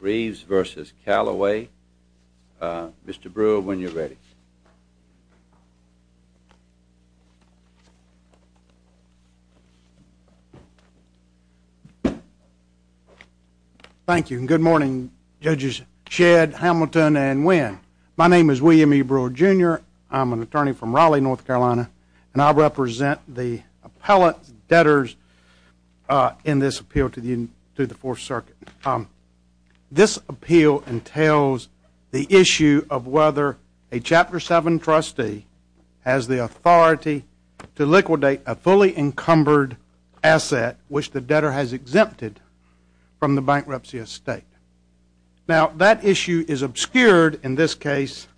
Reeves v. Calloway. Mr. Brewer, when you're ready. Thank you, and good morning judges Shedd, Hamilton, and Winn. My name is William E. Brewer, Jr. I'm an attorney from Raleigh, North Carolina, and I represent the appellate debtors in this appeal to the Fourth Circuit. This appeal entails the issue of whether a Chapter 7 trustee has the authority to liquidate a fully encumbered asset which the debtor has exempted from the bankruptcy estate. Now, that issue is obscured in this case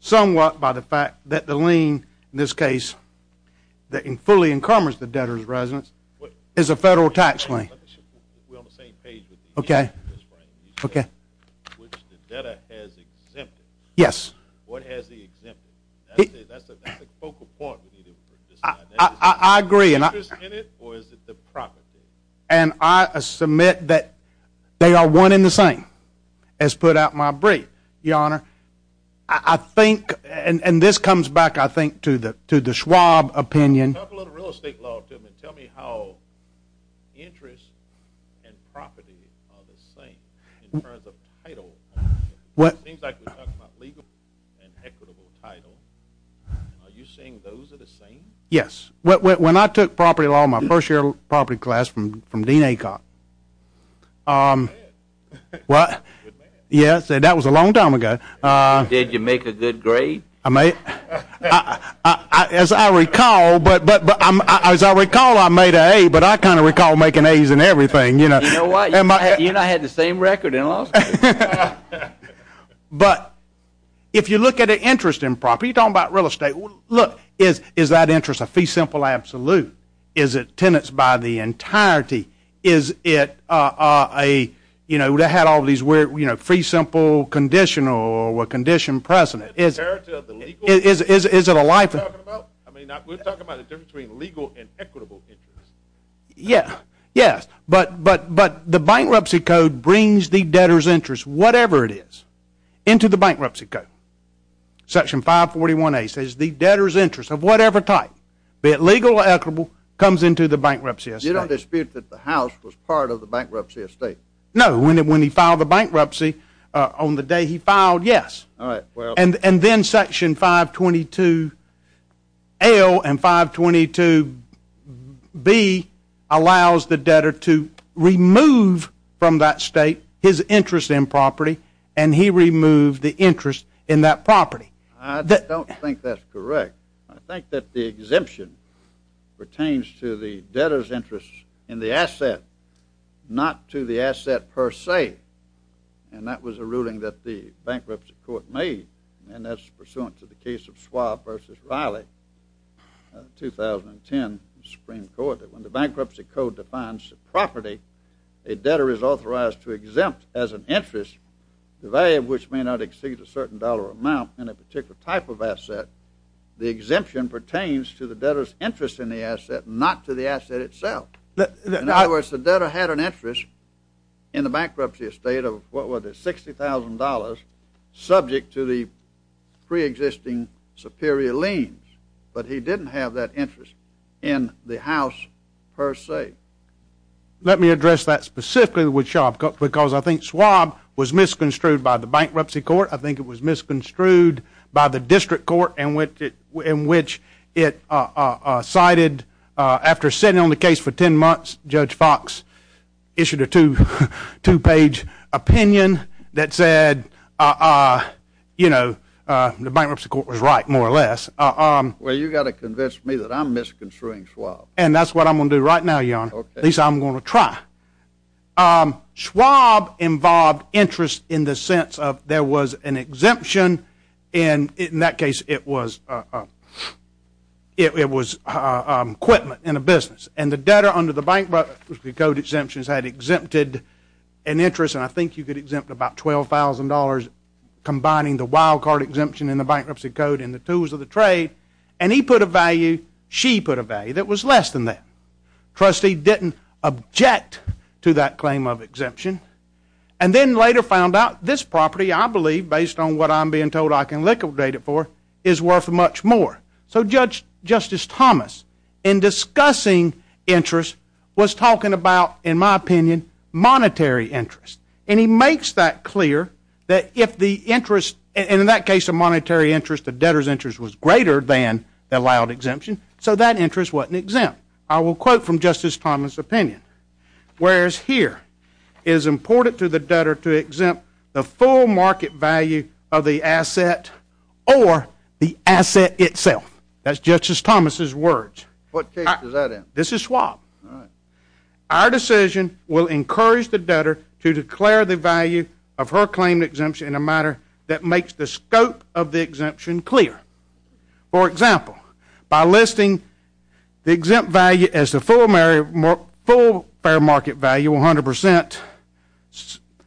somewhat by the fact that the lien, in this case, that fully encumbers the debtor's residence, is a federal tax lien. We're on the same page with the interest rate, which the debtor has exempted. What has he exempted? That's the focal point. Is there interest in it, or is it the property? And I submit that they are one and the same, as put out in my brief, Your Honor. I think, and this comes back, I think, to the Schwab opinion. Tell me how interest and property are the same in terms of title. It seems like we're talking about legal and equitable title. Are you saying those are the same? Yes. When I took property law in my first year of property class from Dean Acock, well, yes, that was a long time ago. Did you make a good grade? As I recall, I made an A, but I kind of recall making A's in everything. You know what? You and I had the same record in law school. But if you look at an interest in property, you're talking about real estate. Look, is that interest a fee simple absolute? Is it tenants by the entirety? Is it a, you know, they had all these fee simple conditional or condition precedent? Is it a life? I mean, we're talking about the difference between legal and equitable interest. Yes, but the bankruptcy code brings the debtor's interest, whatever it is, into the bankruptcy code. Section 541A says the debtor's interest of whatever type, be it legal or equitable, comes into the bankruptcy estate. You don't dispute that the house was part of the bankruptcy estate? No, when he filed the bankruptcy on the day he filed, yes. All right. And then Section 522L and 522B allows the debtor to remove from that state his interest in property, and he removed the interest in that property. I don't think that's correct. I think that the exemption pertains to the debtor's interest in the asset, not to the asset per se. And that was a ruling that the bankruptcy court made, and that's pursuant to the case of Schwab v. Riley, 2010 Supreme Court, that when the bankruptcy code defines the property, a debtor is authorized to exempt as an interest the value of which may not exceed a certain dollar amount in a particular type of asset. The exemption pertains to the debtor's interest in the asset, not to the asset itself. In other words, the debtor had an interest in the bankruptcy estate of, what was it, $60,000, subject to the preexisting superior liens, but he didn't have that interest in the house per se. Let me address that specifically with Schwab, because I think Schwab was misconstrued by the bankruptcy court. I think it was misconstrued by the district court, in which it cited, after sitting on the case for 10 months, Judge Fox issued a two-page opinion that said, you know, the bankruptcy court was right, more or less. Well, you've got to convince me that I'm misconstruing Schwab. And that's what I'm going to do right now, Your Honor. At least I'm going to try. Schwab involved interest in the sense of there was an exemption, and in that case it was equipment in a business. And the debtor under the Bankruptcy Code exemptions had exempted an interest, and I think you could exempt about $12,000, combining the wild card exemption in the Bankruptcy Code and the tools of the trade, and he put a value, she put a value that was less than that. Trustee didn't object to that claim of exemption, and then later found out this property, I believe, based on what I'm being told I can liquidate it for, is worth much more. So Justice Thomas, in discussing interest, was talking about, in my opinion, monetary interest. And he makes that clear that if the interest, and in that case a monetary interest, the debtor's interest was greater than the allowed exemption, so that interest wasn't exempt. I will quote from Justice Thomas' opinion. Whereas here, it is important to the debtor to exempt the full market value of the asset or the asset itself. That's Justice Thomas' words. What case does that end? This is Schwab. Our decision will encourage the debtor to declare the value of her claim to exemption in a manner that makes the scope of the exemption clear. For example, by listing the exempt value as the full fair market value, 100%,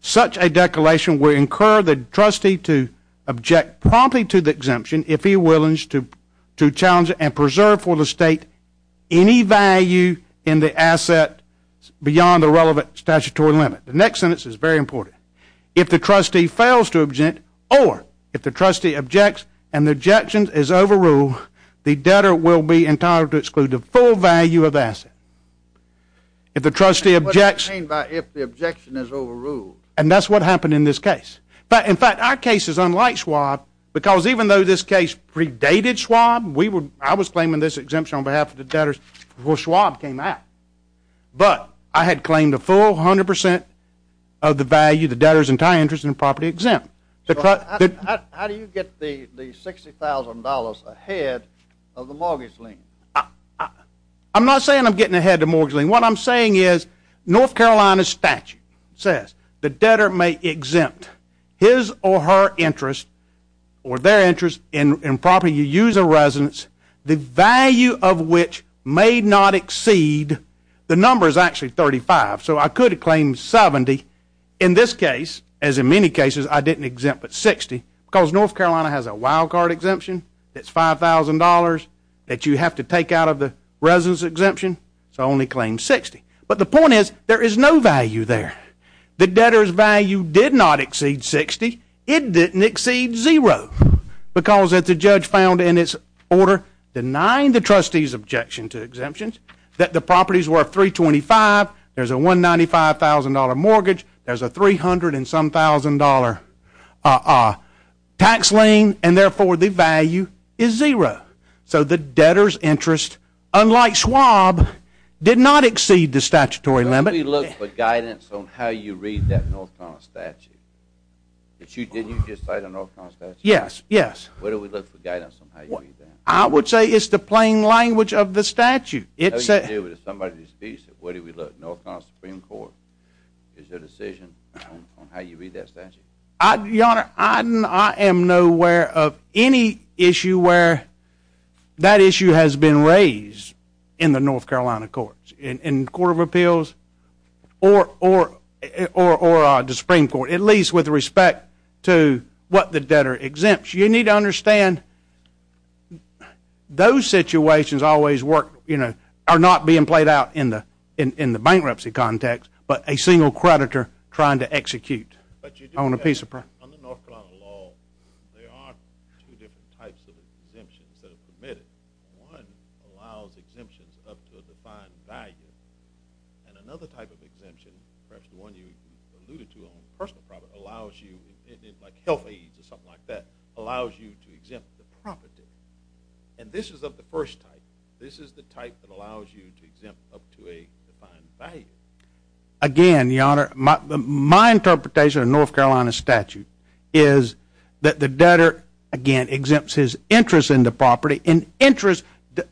such a declaration will incur the trustee to object promptly to the exemption if he wills to challenge it and preserve for the state any value in the asset beyond the relevant statutory limit. The next sentence is very important. If the trustee fails to object or if the trustee objects and the objection is overruled, the debtor will be entitled to exclude the full value of the asset. If the trustee objects. What do you mean by if the objection is overruled? And that's what happened in this case. In fact, our case is unlike Schwab because even though this case predated Schwab, I was claiming this exemption on behalf of the debtors before Schwab came out. But I had claimed a full 100% of the value of the debtor's entire interest in property exempt. How do you get the $60,000 ahead of the mortgage lien? I'm not saying I'm getting ahead of the mortgage lien. What I'm saying is North Carolina statute says the debtor may exempt his or her interest or their interest in property use of residence, the value of which may not exceed. The number is actually 35, so I could claim 70. In this case, as in many cases, I didn't exempt but 60 because North Carolina has a wild card exemption that's $5,000 that you have to take out of the residence exemption, so I only claimed 60. But the point is there is no value there. The debtor's value did not exceed 60. It didn't exceed zero because, as the judge found in its order, denying the trustee's objection to exemptions that the properties were $325, there's a $195,000 mortgage, there's a $300-and-some-thousand tax lien, and therefore the value is zero. So the debtor's interest, unlike Schwab, did not exceed the statutory limit. Where do we look for guidance on how you read that North Carolina statute? Didn't you just cite a North Carolina statute? Yes, yes. Where do we look for guidance on how you read that? I would say it's the plain language of the statute. What do you do if somebody disputes it? Where do we look? North Carolina Supreme Court. Is there a decision on how you read that statute? Your Honor, I am nowhere of any issue where that issue has been raised in the North Carolina courts. In the Court of Appeals or the Supreme Court. At least with respect to what the debtor exempts. You need to understand those situations always work, you know, are not being played out in the bankruptcy context, but a single creditor trying to execute on a piece of property. On the North Carolina law, there are two different types of exemptions that are permitted. One allows exemptions up to a defined value. And another type of exemption, perhaps the one you alluded to on personal property, allows you, like health aides or something like that, allows you to exempt the property. And this is of the first type. This is the type that allows you to exempt up to a defined value. Again, Your Honor, my interpretation of the North Carolina statute is that the debtor, again, exempts his interest in the property. And interest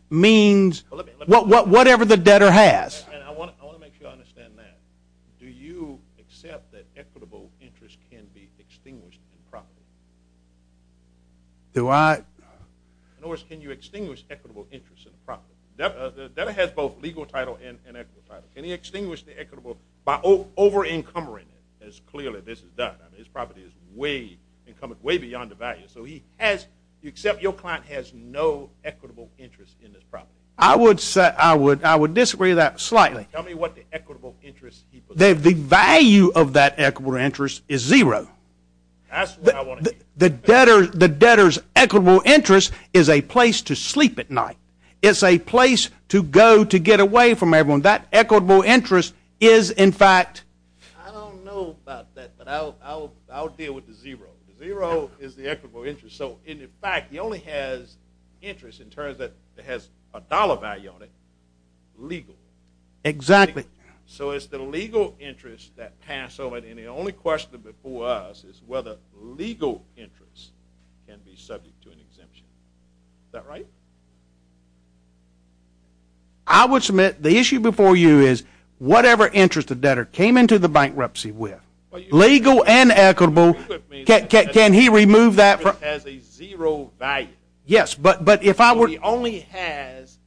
means whatever the debtor has. And I want to make sure I understand that. Do you accept that equitable interest can be extinguished in property? Do I? In other words, can you extinguish equitable interest in property? The debtor has both legal title and equitable title. Can he extinguish the equitable by over-encumbering it? As clearly this is done. I mean, his property is way, way beyond the value. So he has, except your client has no equitable interest in this property. I would disagree with that slightly. Tell me what the equitable interest is. The value of that equitable interest is zero. That's what I want to hear. The debtor's equitable interest is a place to sleep at night. It's a place to go to get away from everyone. That equitable interest is, in fact. I don't know about that, but I'll deal with the zero. Zero is the equitable interest. So, in fact, he only has interest in terms that it has a dollar value on it legally. Exactly. So it's the legal interest that passed over. And the only question before us is whether legal interest can be subject to an exemption. Is that right? I would submit the issue before you is whatever interest the debtor came into the bankruptcy with, legal and equitable, can he remove that? It has a zero value. Yes, but if I were to. So he only has.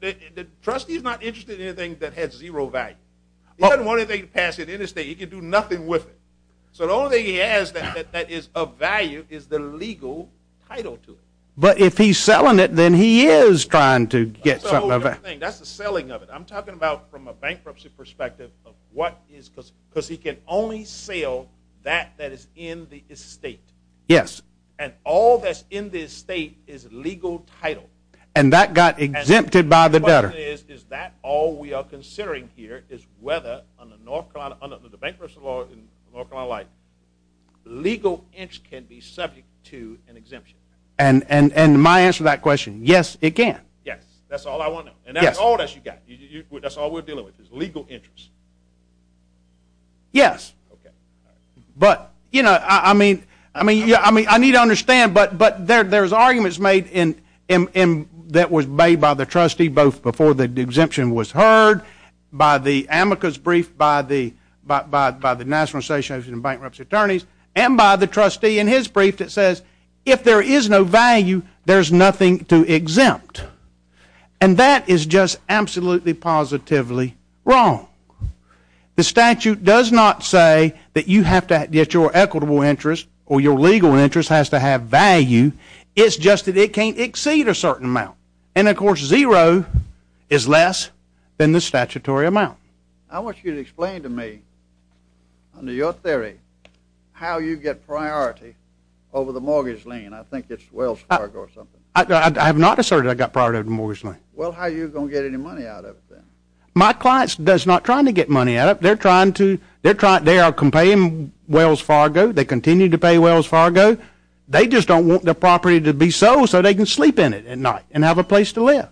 The trustee's not interested in anything that has zero value. He doesn't want anything to pass it in his state. He can do nothing with it. So the only thing he has that is of value is the legal title to it. But if he's selling it, then he is trying to get some of it. That's a whole different thing. That's the selling of it. I'm talking about from a bankruptcy perspective of what is because he can only sell that that is in the estate. Yes. And all that's in the estate is legal title. And that got exempted by the debtor. The question is, is that all we are considering here is whether under the bankruptcy law in North Carolina like, legal interest can be subject to an exemption. And my answer to that question, yes, it can. Yes, that's all I want to know. And that's all that you've got. That's all we're dealing with is legal interest. Yes. Okay. But, you know, I mean, I need to understand, but there's arguments made that was made by the trustee both before the exemption was heard, by the amicus brief, by the National Association of Bankruptcy Attorneys, and by the trustee in his brief that says if there is no value, there's nothing to exempt. And that is just absolutely positively wrong. The statute does not say that you have to get your equitable interest or your legal interest has to have value. It's just that it can't exceed a certain amount. And, of course, zero is less than the statutory amount. I want you to explain to me, under your theory, how you get priority over the mortgage lien. I think it's Wells Fargo or something. I have not asserted I got priority over the mortgage lien. Well, how are you going to get any money out of it then? My clients are not trying to get money out of it. They're trying to. They are complying with Wells Fargo. They continue to pay Wells Fargo. They just don't want their property to be sold so they can sleep in it at night and have a place to live.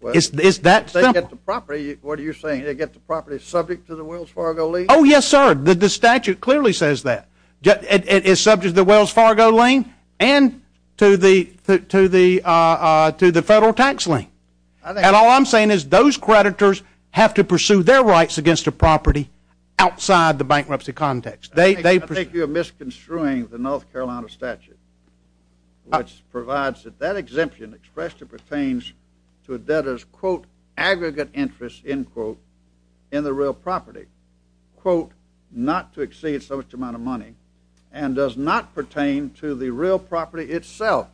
Well, if they get the property, what are you saying? They get the property subject to the Wells Fargo lien? Oh, yes, sir. The statute clearly says that. It is subject to the Wells Fargo lien and to the federal tax lien. And all I'm saying is those creditors have to pursue their rights against the property outside the bankruptcy context. I think you're misconstruing the North Carolina statute, which provides that that exemption expressly pertains to a debtor's, quote, not to exceed such amount of money and does not pertain to the real property itself.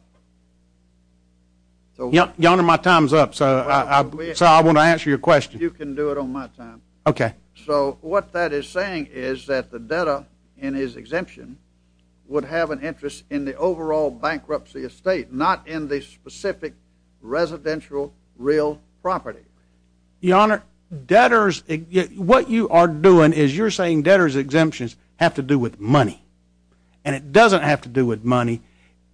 Your Honor, my time's up, so I want to answer your question. You can do it on my time. Okay. So what that is saying is that the debtor in his exemption would have an interest in the overall bankruptcy estate, not in the specific residential real property. Your Honor, debtors, what you are doing is you're saying debtor's exemptions have to do with money. And it doesn't have to do with money.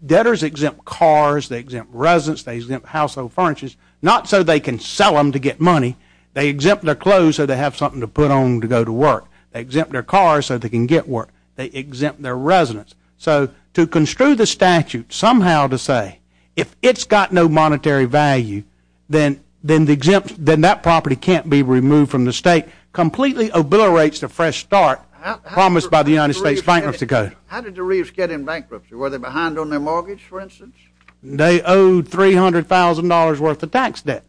Debtors exempt cars. They exempt residence. They exempt household furnitures, not so they can sell them to get money. They exempt their clothes so they have something to put on to go to work. They exempt their cars so they can get work. They exempt their residence. So to construe the statute somehow to say if it's got no monetary value, then that property can't be removed from the state, completely obliterates the fresh start promised by the United States Bankruptcy Code. How did the Reeves get in bankruptcy? Were they behind on their mortgage, for instance? They owed $300,000 worth of tax debt,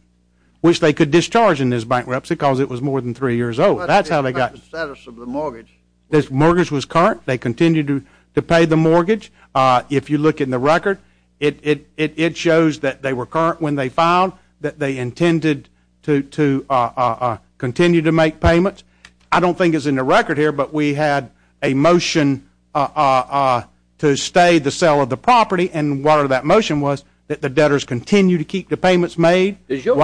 which they could discharge in this bankruptcy because it was more than three years old. That's how they got the status of the mortgage. This mortgage was current. They continued to pay the mortgage. If you look in the record, it shows that they were current when they filed, that they intended to continue to make payments. I don't think it's in the record here, but we had a motion to stay the sale of the property, and part of that motion was that the debtors continue to keep the payments made. Does your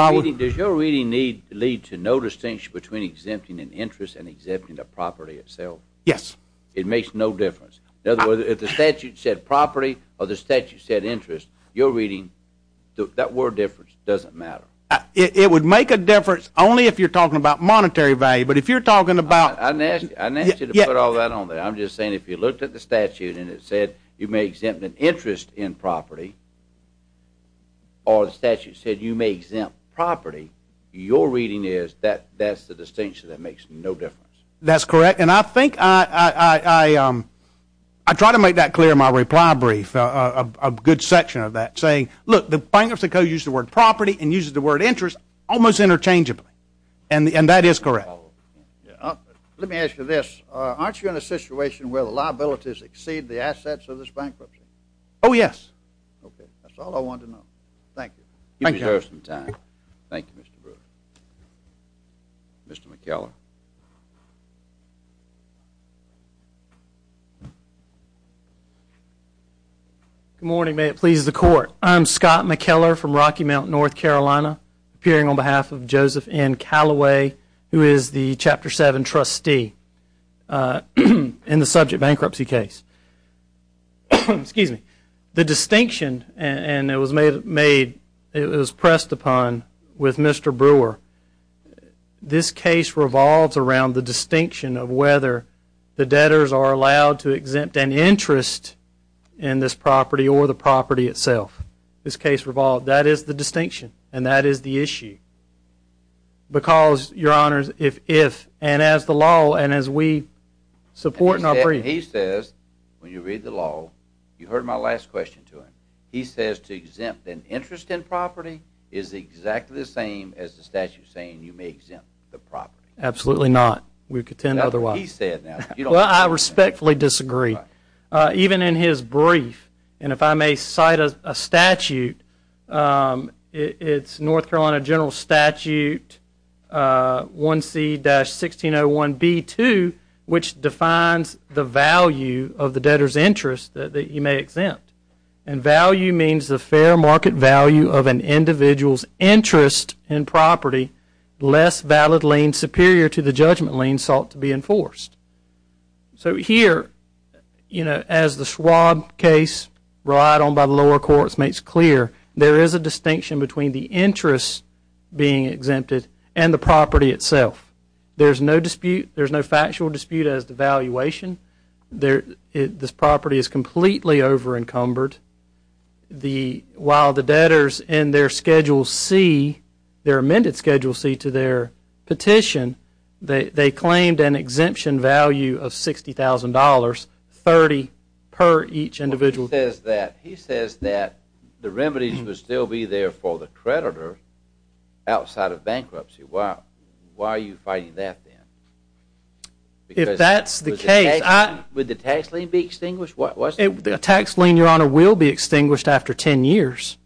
reading lead to no distinction between exempting an interest and exempting the property itself? Yes. It makes no difference. In other words, if the statute said property or the statute said interest, your reading, that word difference doesn't matter. It would make a difference only if you're talking about monetary value, but if you're talking about— I didn't ask you to put all that on there. I'm just saying if you looked at the statute and it said you may exempt an interest in property or the statute said you may exempt property, your reading is that that's the distinction that makes no difference. That's correct. And I think I try to make that clear in my reply brief, a good section of that, saying, look, the bankruptcy code uses the word property and uses the word interest almost interchangeably, and that is correct. Let me ask you this. Aren't you in a situation where the liabilities exceed the assets of this bankruptcy? Oh, yes. Okay. That's all I wanted to know. Thank you. Thank you, Mr. Brewer. Mr. McKellar. Good morning. May it please the Court. I'm Scott McKellar from Rocky Mountain, North Carolina, appearing on behalf of Joseph N. Calloway, who is the Chapter 7 trustee in the subject bankruptcy case. Excuse me. The distinction, and it was pressed upon with Mr. Brewer, this case revolves around the distinction of whether the debtors are allowed to exempt an interest in this property or the property itself. This case revolved. That is the distinction, and that is the issue. Because, Your Honors, if and as the law and as we support in our briefs when you read the law, you heard my last question to him. He says to exempt an interest in property is exactly the same as the statute saying you may exempt the property. Absolutely not. We contend otherwise. That's what he said. Well, I respectfully disagree. Even in his brief, and if I may cite a statute, it's North Carolina General Statute 1C-1601B2, which defines the value of the debtor's interest that you may exempt. And value means the fair market value of an individual's interest in property less valid lien superior to the judgment lien sought to be enforced. So here, you know, as the Schwab case relied on by the lower courts makes clear, there is a distinction between the interest being exempted and the property itself. There's no dispute. There's no factual dispute as to valuation. This property is completely over encumbered. While the debtors in their Schedule C, their amended Schedule C to their petition, they claimed an exemption value of $60,000, 30 per each individual. He says that the remedies would still be there for the creditor outside of bankruptcy. Why are you fighting that then? If that's the case, I – Would the tax lien be extinguished? A tax lien, Your Honor, will be extinguished after 10 years.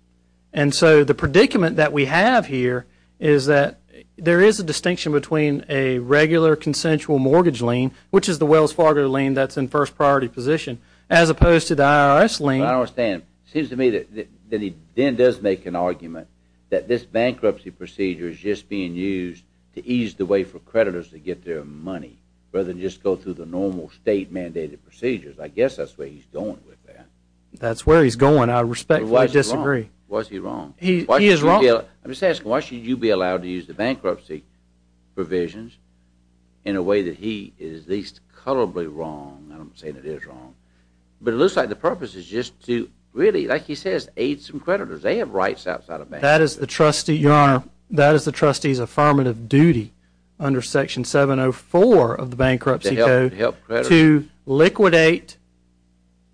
And so the predicament that we have here is that there is a distinction between a regular consensual mortgage lien, which is the Wells Fargo lien that's in first priority position, as opposed to the IRS lien. I don't understand. It seems to me that he then does make an argument that this bankruptcy procedure is just being used to ease the way for creditors to get their money rather than just go through the normal state mandated procedures. I guess that's where he's going with that. That's where he's going. I respectfully disagree. Was he wrong? He is wrong. I'm just asking, why should you be allowed to use the bankruptcy provisions in a way that he is least colorably wrong? I'm not saying it is wrong. But it looks like the purpose is just to really, like he says, aid some creditors. They have rights outside of bankruptcy. To liquidate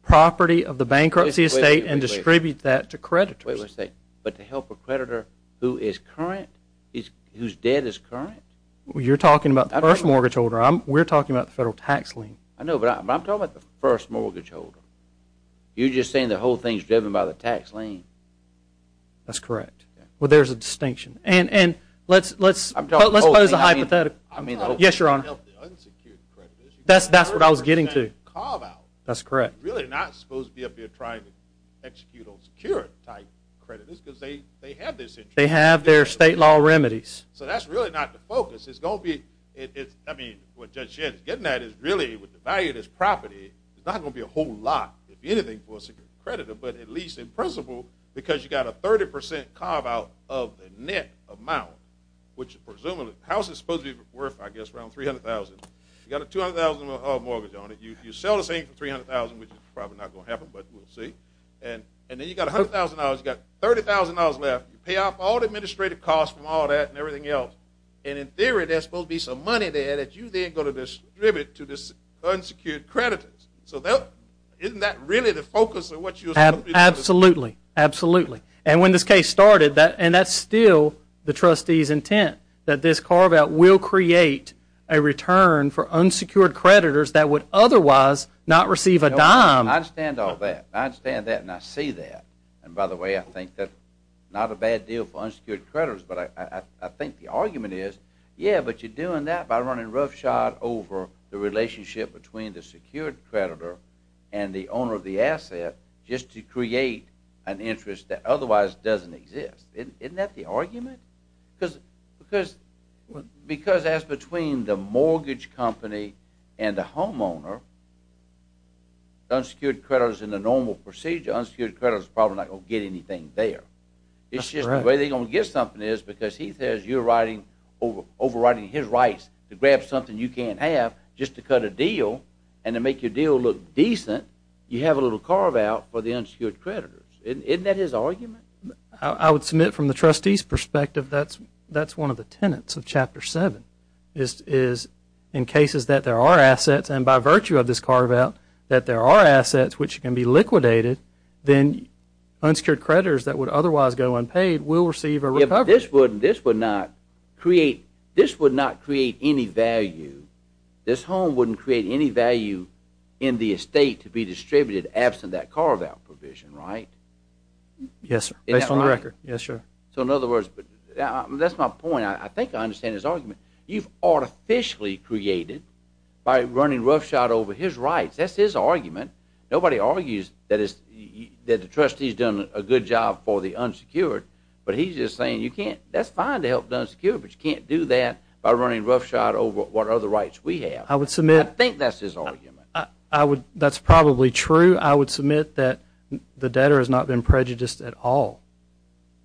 property of the bankruptcy estate and distribute that to creditors. But to help a creditor who is current, whose debt is current? You're talking about the first mortgage holder. We're talking about the federal tax lien. I know, but I'm talking about the first mortgage holder. You're just saying the whole thing is driven by the tax lien. That's correct. Well, there's a distinction. And let's pose a hypothetical. Yes, Your Honor. That's what I was getting to. Carve out. That's correct. You're really not supposed to be up here trying to execute on secured type creditors because they have this interest. They have their state law remedies. So that's really not the focus. It's going to be, I mean, what Judge Shedd is getting at is really, with the value of this property, it's not going to be a whole lot, if anything, for a secured creditor, but at least in principle, because you've got a 30% carve out of the net amount, which presumably the house is supposed to be worth, I guess, around $300,000. You've got a $200,000 mortgage on it. You sell the thing for $300,000, which is probably not going to happen, but we'll see. And then you've got $100,000. You've got $30,000 left. You pay off all the administrative costs from all that and everything else. And in theory, there's supposed to be some money there that you then go to distribute to this unsecured creditor. So isn't that really the focus of what you're supposed to be doing? Absolutely. Absolutely. And when this case started, and that's still the trustee's intent, that this carve out will create a return for unsecured creditors that would otherwise not receive a dime. I understand all that. I understand that, and I see that. And by the way, I think that not a bad deal for unsecured creditors, but I think the argument is, yeah, but you're doing that by running roughshod over the relationship between the secured creditor and the owner of the asset just to create an interest that otherwise doesn't exist. Isn't that the argument? Because as between the mortgage company and the homeowner, unsecured creditors in the normal procedure, unsecured creditors are probably not going to get anything there. That's right. It's just the way they're going to get something is because he says you're overwriting his rights to grab something you can't have just to cut a deal, and to make your deal look decent, you have a little carve out for the unsecured creditors. Isn't that his argument? I would submit from the trustee's perspective that's one of the tenets of Chapter 7 is in cases that there are assets, and by virtue of this carve out, that there are assets which can be liquidated, then unsecured creditors that would otherwise go unpaid will receive a recovery. Yeah, but this would not create any value. This home wouldn't create any value in the estate to be distributed absent that carve out provision, right? Yes, based on the record. So in other words, that's my point. I think I understand his argument. You've artificially created by running roughshod over his rights. That's his argument. Nobody argues that the trustee's done a good job for the unsecured, but he's just saying that's fine to help the unsecured, but you can't do that by running roughshod over what other rights we have. I think that's his argument. That's probably true. I would submit that the debtor has not been prejudiced at all.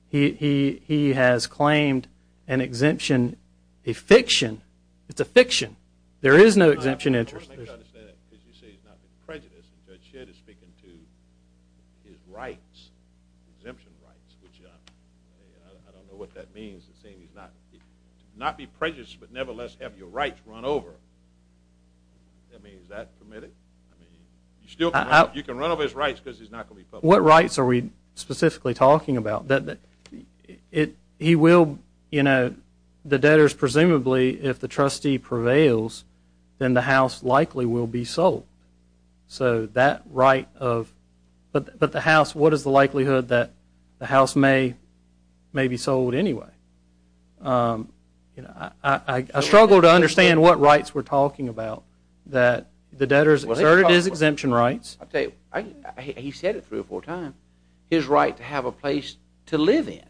He has claimed an exemption, a fiction. It's a fiction. There is no exemption interest. As you say, he's not been prejudiced. Judge Shedd is speaking to his rights, exemption rights, which I don't know what that means. It's saying he's not been prejudiced, but nevertheless have your rights run over. I mean, is that permitted? I mean, you can run over his rights because he's not going to be public. What rights are we specifically talking about? He will, you know, the debtors presumably if the trustee prevails, then the house likely will be sold. So that right of, but the house, what is the likelihood that the house may be sold anyway? I struggle to understand what rights we're talking about, that the debtors asserted his exemption rights. He said it three or four times, his right to have a place to live in.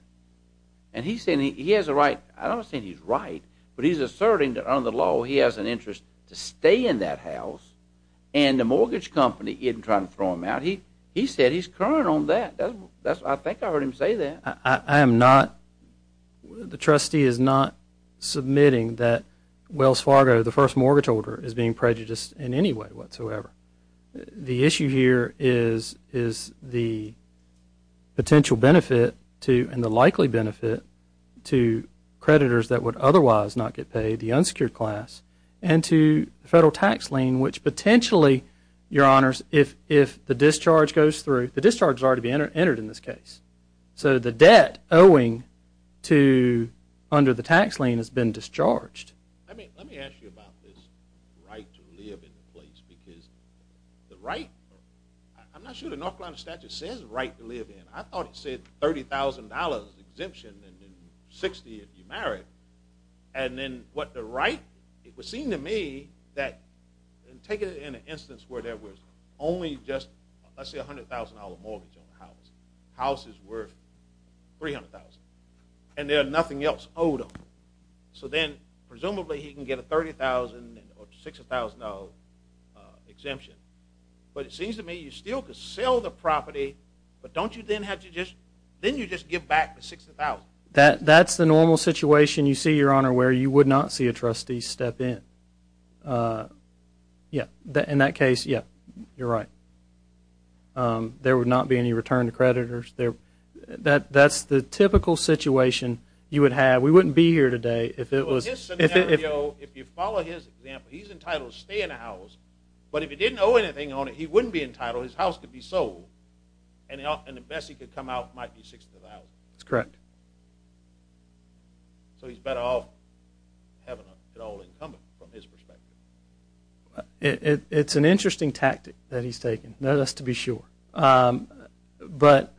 And he's saying he has a right. I don't think he's right, but he's asserting that under the law he has an interest to stay in that house, and the mortgage company isn't trying to throw him out. He said he's current on that. I think I heard him say that. I am not. The trustee is not submitting that Wells Fargo, the first mortgage holder, is being prejudiced in any way whatsoever. The issue here is the potential benefit and the likely benefit to creditors that would otherwise not get paid, the unsecured class, and to the federal tax lien, which potentially, your honors, if the discharge goes through. The discharge has already been entered in this case. So the debt owing to under the tax lien has been discharged. Let me ask you about this right to live in the place, because the right, I'm not sure the North Carolina statute says right to live in. I thought it said $30,000 exemption and then $60,000 if you're married. And then what the right, it would seem to me that, and take it in an instance where there was only just, let's say, a $100,000 mortgage on the house. The house is worth $300,000, and they're nothing else owed them. So then presumably he can get a $30,000 or $60,000 exemption. But it seems to me you still could sell the property, but don't you then have to just, then you just give back the $60,000. That's the normal situation, you see, your honor, where you would not see a trustee step in. Yeah, in that case, yeah, you're right. There would not be any return to creditors. That's the typical situation you would have. We wouldn't be here today if it was. If you follow his example, he's entitled to stay in the house. But if he didn't owe anything on it, he wouldn't be entitled. His house could be sold. And the best he could come out might be $60,000. That's correct. So he's better off having it all incumbent from his perspective. It's an interesting tactic that he's taken, that is to be sure. But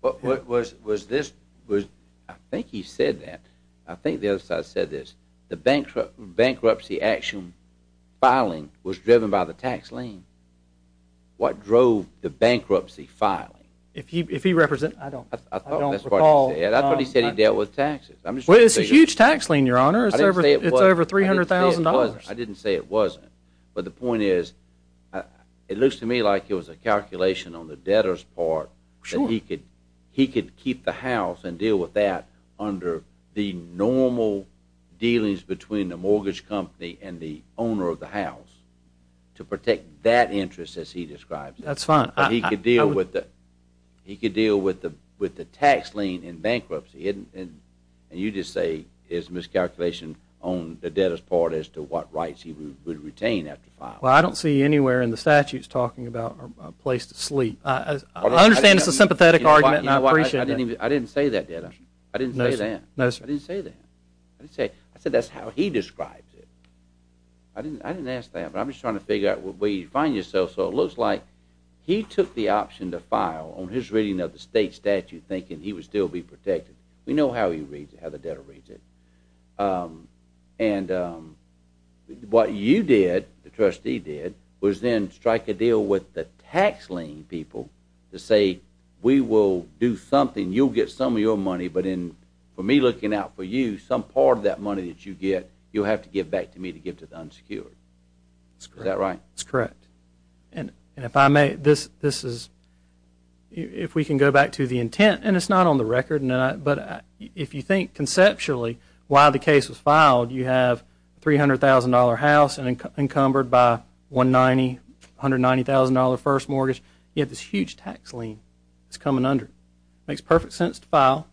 what was this? I think he said that. I think the other side said this. The bankruptcy action filing was driven by the tax lien. What drove the bankruptcy filing? I don't recall. That's what he said. He dealt with taxes. Well, it's a huge tax lien, your honor. It's over $300,000. I didn't say it wasn't. But the point is, it looks to me like it was a calculation on the debtor's part. Sure. That he could keep the house and deal with that under the normal dealings between the mortgage company and the owner of the house to protect that interest, as he describes it. That's fine. He could deal with the tax lien in bankruptcy, and you just say it's a miscalculation on the debtor's part as to what rights he would retain after filing. Well, I don't see anywhere in the statutes talking about a place to sleep. I understand it's a sympathetic argument, and I appreciate that. You know what? I didn't say that, Dennis. I didn't say that. No, sir. I didn't say that. I said that's how he describes it. I didn't ask that, but I'm just trying to figure out where you find yourself. So it looks like he took the option to file on his reading of the state statute, thinking he would still be protected. We know how he reads it, how the debtor reads it. And what you did, the trustee did, was then strike a deal with the tax lien people to say, we will do something. You'll get some of your money, but for me looking out for you, some part of that money that you get, you'll have to give back to me to give to the unsecured. Is that right? That's correct. And if we can go back to the intent, and it's not on the record, but if you think conceptually why the case was filed, you have a $300,000 house encumbered by a $190,000 first mortgage. You have this huge tax lien that's coming under it. It makes perfect sense to file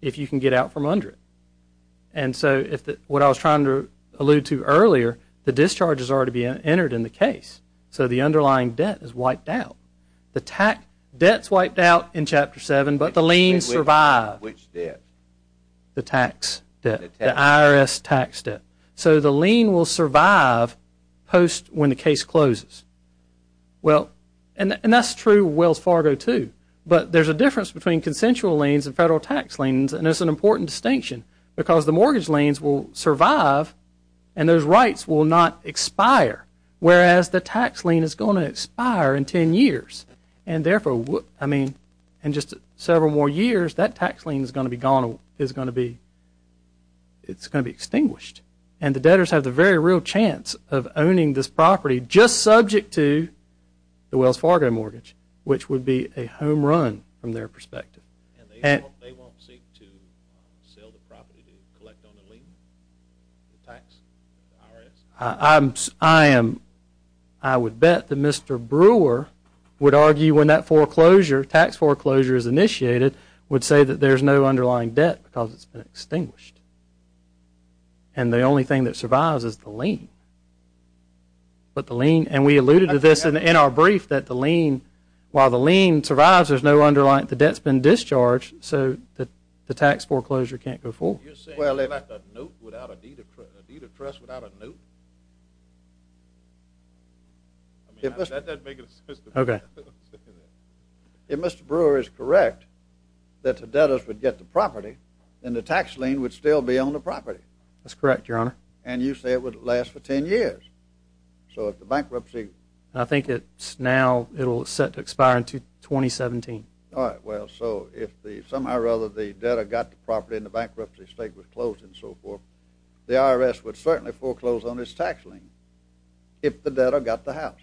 if you can get out from under it. And so what I was trying to allude to earlier, the discharges are to be entered in the case. So the underlying debt is wiped out. Debt's wiped out in Chapter 7, but the lien survived. Which debt? The tax debt, the IRS tax debt. So the lien will survive post when the case closes. And that's true with Wells Fargo too. But there's a difference between consensual liens and federal tax liens, and it's an important distinction because the mortgage liens will survive, and those rights will not expire, whereas the tax lien is going to expire in ten years. And therefore, I mean, in just several more years, that tax lien is going to be gone, it's going to be extinguished. And the debtors have the very real chance of owning this property just subject to the Wells Fargo mortgage, which would be a home run from their perspective. And they won't seek to sell the property to collect on the lien? I would bet that Mr. Brewer would argue when that foreclosure, tax foreclosure is initiated, would say that there's no underlying debt because it's been extinguished. And the only thing that survives is the lien. And we alluded to this in our brief that the lien, the lien survives, there's no underlying, the debt's been discharged, so the tax foreclosure can't go forward. You're saying without a note, without a deed of trust, without a note? I mean, that doesn't make any sense to me. Okay. If Mr. Brewer is correct that the debtors would get the property, then the tax lien would still be on the property. That's correct, Your Honor. And you say it would last for ten years. So if the bankruptcy... I think it's now, it'll set to expire in 2017. All right. Well, so if somehow or other the debtor got the property and the bankruptcy state was closed and so forth, the IRS would certainly foreclose on its tax lien if the debtor got the house.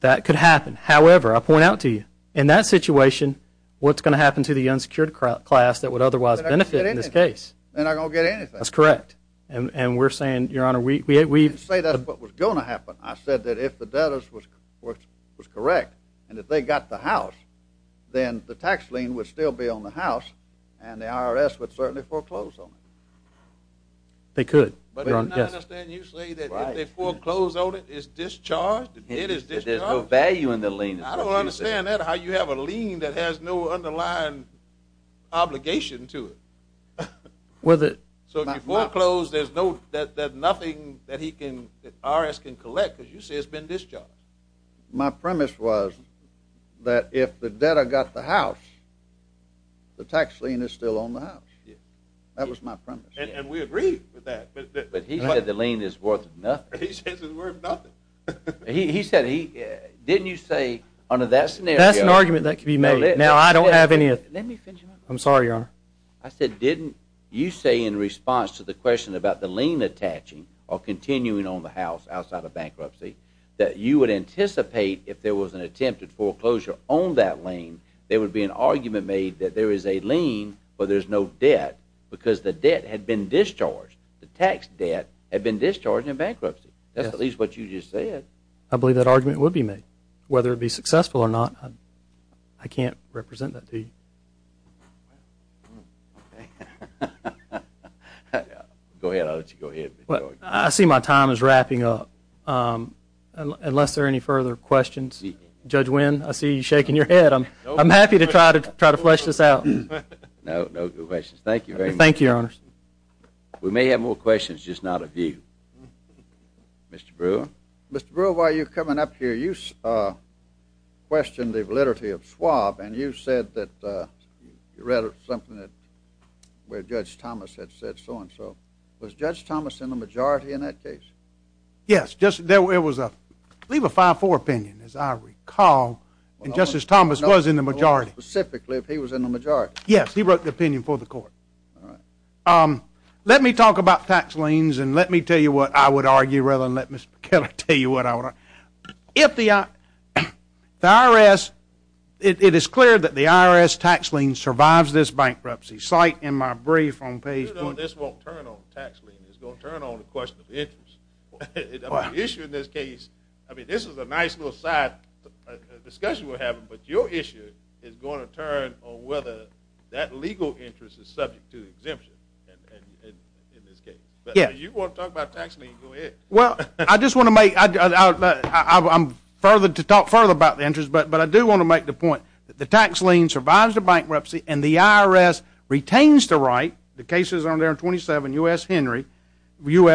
That could happen. However, I'll point out to you, in that situation, what's going to happen to the unsecured class that would otherwise benefit in this case? They're not going to get anything. That's correct. And we're saying, Your Honor, we've... If the debtors was correct and if they got the house, then the tax lien would still be on the house and the IRS would certainly foreclose on it. They could. But Your Honor, I understand you say that if they foreclose on it, it's discharged? It is discharged? If there's no value in the lien. I don't understand that, how you have a lien that has no underlying obligation to it. So if you foreclose, there's nothing that he can, that IRS can collect because you say it's been discharged. My premise was that if the debtor got the house, the tax lien is still on the house. That was my premise. And we agree with that. But he said the lien is worth nothing. He says it's worth nothing. He said he... Didn't you say under that scenario... That's an argument that could be made. Now, I don't have any... I'm sorry, Your Honor. I said, didn't you say in response to the question about the lien attaching or continuing on the house outside of bankruptcy, that you would anticipate if there was an attempted foreclosure on that lien, there would be an argument made that there is a lien, but there's no debt because the debt had been discharged. The tax debt had been discharged in bankruptcy. That's at least what you just said. I believe that argument would be made. Whether it be successful or not, I can't represent that to you. Okay. Go ahead. I'll let you go ahead. I see my time is wrapping up. Unless there are any further questions. Judge Wynn, I see you shaking your head. I'm happy to try to flesh this out. No, no questions. Thank you very much. Thank you, Your Honors. We may have more questions, just not a view. Mr. Brewer. Mr. Brewer, while you're coming up here, you questioned the validity of swab, and you said that you read something where Judge Thomas had said so-and-so. Was Judge Thomas in the majority in that case? Yes. It was, I believe, a 5-4 opinion, as I recall, and Justice Thomas was in the majority. Specifically, if he was in the majority. Yes. He wrote the opinion for the court. All right. Let me talk about tax liens, If the IRS, it is clear that the IRS tax lien survives this bankruptcy. Cite in my brief on page... This won't turn on tax lien. It's going to turn on the question of interest. The issue in this case, I mean, this is a nice little side discussion we're having, but your issue is going to turn on whether that legal interest is subject to exemption in this case. Yes. If you want to talk about tax lien, go ahead. Well, I just want to make... I'm further to talk further about the interest, but I do want to make the point that the tax lien survives a bankruptcy, and the IRS retains the right, the cases are there in 27 U.S.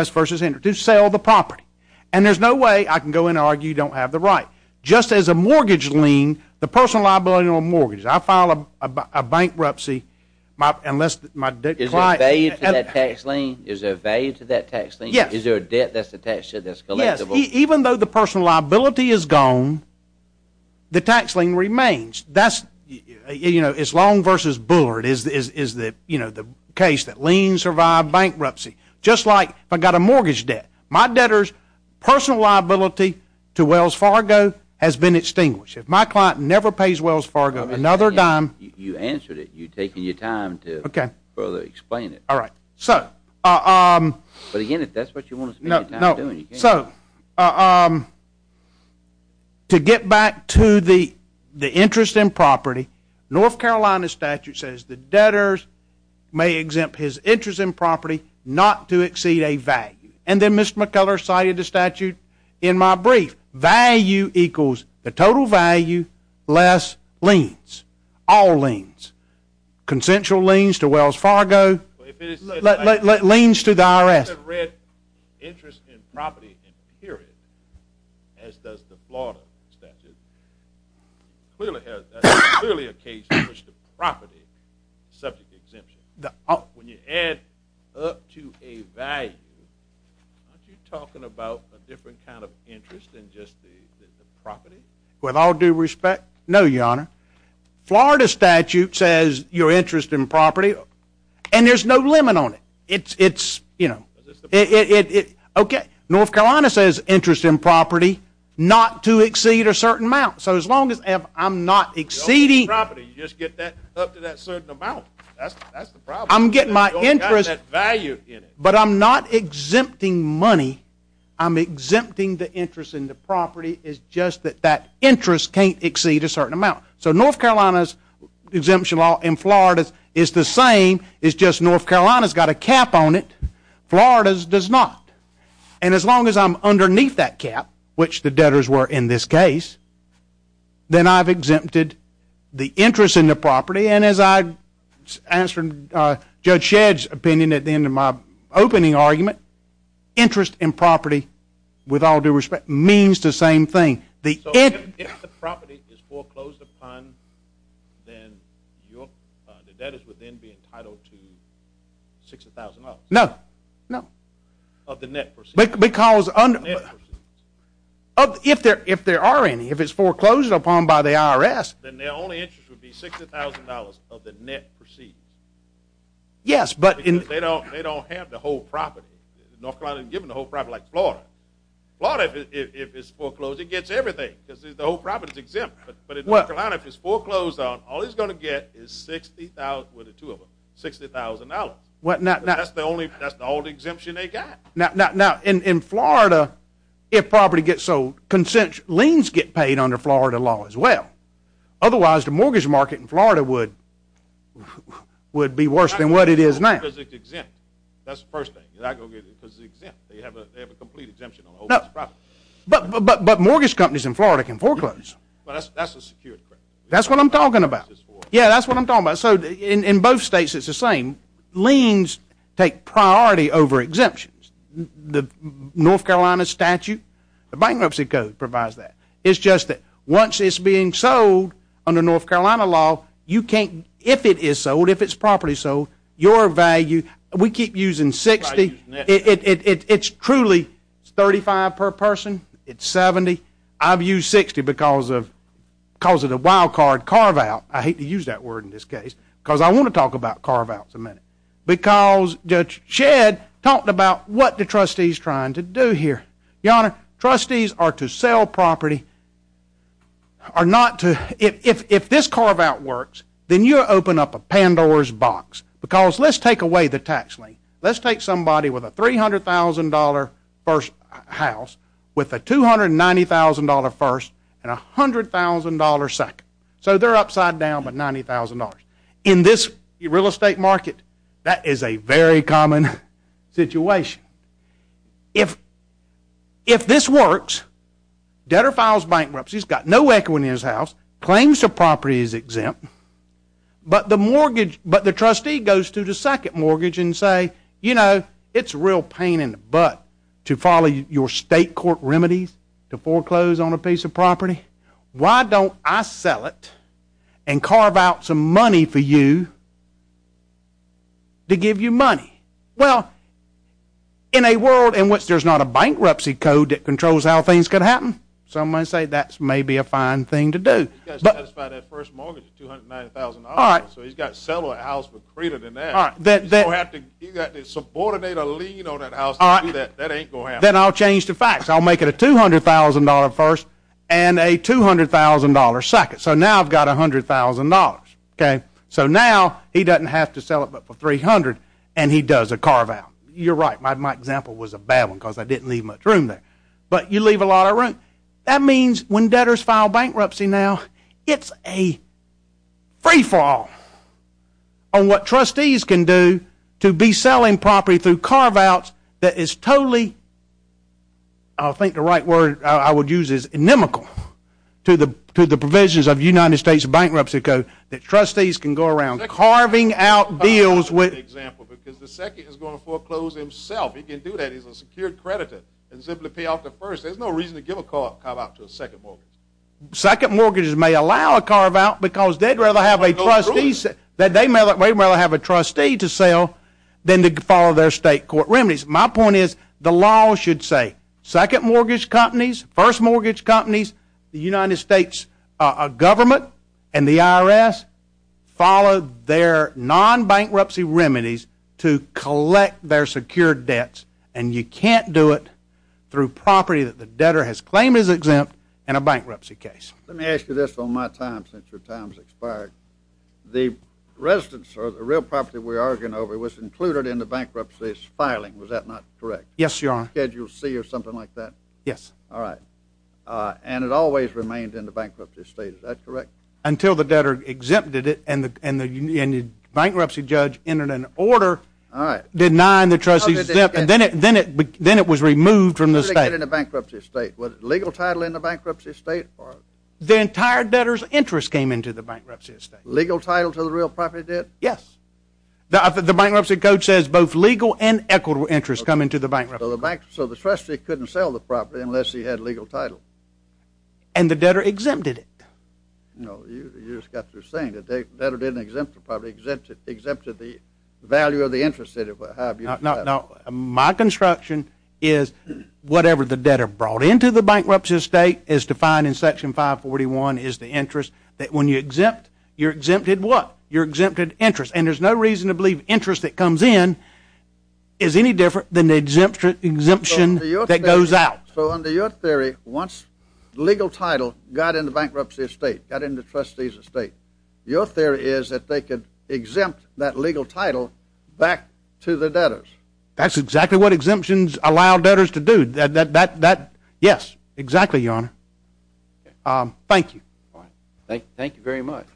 versus Henry, to sell the property, and there's no way I can go in and argue you don't have the right. Just as a mortgage lien, the personal liability on a mortgage, I file a bankruptcy unless my client... Is there a value to that tax lien? Is there a value to that tax lien? Yes. Is there a debt that's attached to this collectible? Yes. Even though the personal liability is gone, the tax lien remains. That's, you know, it's Long versus Bullard is the case that liens survive bankruptcy. Just like if I got a mortgage debt, my debtor's personal liability to Wells Fargo has been extinguished. If my client never pays Wells Fargo another dime... You answered it. You're taking your time to further explain it. All right. So... But, again, if that's what you want to spend your time doing... So, to get back to the interest in property, North Carolina statute says the debtors may exempt his interest in property not to exceed a value. And then Mr. McCullers cited the statute in my brief. Value equals the total value less liens, all liens, consensual liens to Wells Fargo... If it is... Liens to the IRS.... interest in property, period, as does the Florida statute. Clearly a case in which the property is subject to exemption. When you add up to a value, aren't you talking about a different kind of interest than just the property? With all due respect, no, Your Honor. Florida statute says your interest in property... And there's no limit on it. It's, you know... Okay. North Carolina says interest in property not to exceed a certain amount. So, as long as I'm not exceeding... Property. You just get that up to that certain amount. That's the problem. I'm getting my interest... You only got that value in it. But, I'm not exempting money. I'm exempting the interest in the property. It's just that that interest can't exceed a certain amount. So, North Carolina's exemption law in Florida is the same. It's just North Carolina's got a cap on it. Florida's does not. And, as long as I'm underneath that cap, which the debtors were in this case... Then, I've exempted the interest in the property. And, as I answered Judge Shedd's opinion at the end of my opening argument... Interest in property, with all due respect, means the same thing. So, if the property is foreclosed upon... Then, the debtors would then be entitled to $60,000. No. No. Of the net proceeds. Because... Of the net proceeds. If there are any, if it's foreclosed upon by the IRS... Then, their only interest would be $60,000 of the net proceeds. Yes, but in... Because, they don't have the whole property. North Carolina isn't given the whole property, like Florida. Florida, if it's foreclosed, it gets everything. Because, the whole property is exempt. But, in North Carolina, if it's foreclosed on... All it's going to get is $60,000... Well, the two of them. $60,000. Well, not... That's the only... That's the only exemption they got. Now, in Florida, if property gets sold... Consent... Liens get paid under Florida law, as well. Otherwise, the mortgage market in Florida would... Would be worse than what it is now. Because, it's exempt. That's the first thing. You're not going to get it because it's exempt. They have a complete exemption on the whole property. But, mortgage companies in Florida can foreclose. But, that's the security... That's what I'm talking about. That's what I'm talking about. Yeah, that's what I'm talking about. So, in both states, it's the same. Liens take priority over exemptions. The North Carolina statute... The bankruptcy code provides that. It's just that, once it's being sold under North Carolina law... You can't... If it is sold... If it's property sold... Your value... We keep using $60,000. It's truly... It's $35,000 per person. It's $70,000. I've used $60,000 because of... Because of the wild card carve-out. I hate to use that word in this case. Because, I want to talk about carve-outs in a minute. Because, Judge Shedd talked about what the trustees are trying to do here. Your Honor, trustees are to sell property... Are not to... If this carve-out works, then you open up a Pandora's box. Because, let's take away the tax lien. Let's take somebody with a $300,000 first house... With a $290,000 first and a $100,000 second. So, they're upside down by $90,000. In this real estate market... That is a very common situation. If... If this works... Debtor files bankruptcy. He's got no equity in his house. Claims the property is exempt. But, the mortgage... But, the trustee goes to the second mortgage and say... You know, it's real pain in the butt... To follow your state court remedies... To foreclose on a piece of property. Why don't I sell it... And, carve out some money for you... To give you money. Well... In a world in which there's not a bankruptcy code... That controls how things could happen... Some might say that's maybe a fine thing to do. You've got to satisfy that first mortgage at $290,000. All right. So, he's got to sell that house for greater than that. All right. You don't have to... You've got to subordinate a lien on that house to do that. That ain't going to happen. Then, I'll change the facts. I'll make it a $200,000 first and a $200,000 second. So, now I've got $100,000. Okay. So, now he doesn't have to sell it but for $300,000. And, he does a carve out. You're right. My example was a bad one because I didn't leave much room there. But, you leave a lot of room. That means when debtors file bankruptcy now... It's a free fall... On what trustees can do... To be selling property through carve outs... That is totally... I don't think the right word I would use is inimical... To the provisions of the United States Bankruptcy Code... That trustees can go around carving out deals with... That's a good example because the second is going to foreclose himself. He can do that. He's a secured creditor. And, simply pay off the first. There's no reason to give a carve out to a second mortgage. Second mortgages may allow a carve out because they'd rather have a trustee... That they'd rather have a trustee to sell... Than to follow their state court remedies. My point is the law should say... Second mortgage companies, first mortgage companies... The United States government and the IRS... Follow their non-bankruptcy remedies... To collect their secured debts... And, you can't do it through property that the debtor has claimed is exempt... In a bankruptcy case. Let me ask you this on my time since your time has expired. The residence or the real property we are arguing over... Was included in the bankruptcy's filing. Was that not correct? Yes, your honor. Schedule C or something like that? Yes. Alright. And, it always remained in the bankruptcy state. Is that correct? Until the debtor exempted it... And, the bankruptcy judge entered an order... Alright. Denying the trustee's exempt... Then, it was removed from the state. How did it get in the bankruptcy state? Was it legal title in the bankruptcy state? The entire debtor's interest came into the bankruptcy state. Legal title to the real property debt? Yes. The bankruptcy code says both legal and equitable interest come into the bankruptcy... So, the trustee couldn't sell the property unless he had legal title? And, the debtor exempted it. No, you just got through saying that the debtor didn't exempt the property. Exempted the value of the interest that it would have. No, no. My construction is whatever the debtor brought into the bankruptcy state is defined in Section 541 is the interest that when you exempt... You're exempted what? You're exempted interest. And, there's no reason to believe interest that comes in is any different than the exemption that goes out. So, under your theory, once legal title got in the bankruptcy state, got in the trustee's estate... Your theory is that they could exempt that legal title back to the debtors. That's exactly what exemptions allow debtors to do. That, that, that, that... Yes. Exactly, Your Honor. Okay. Thank you. Alright. Thank you very much.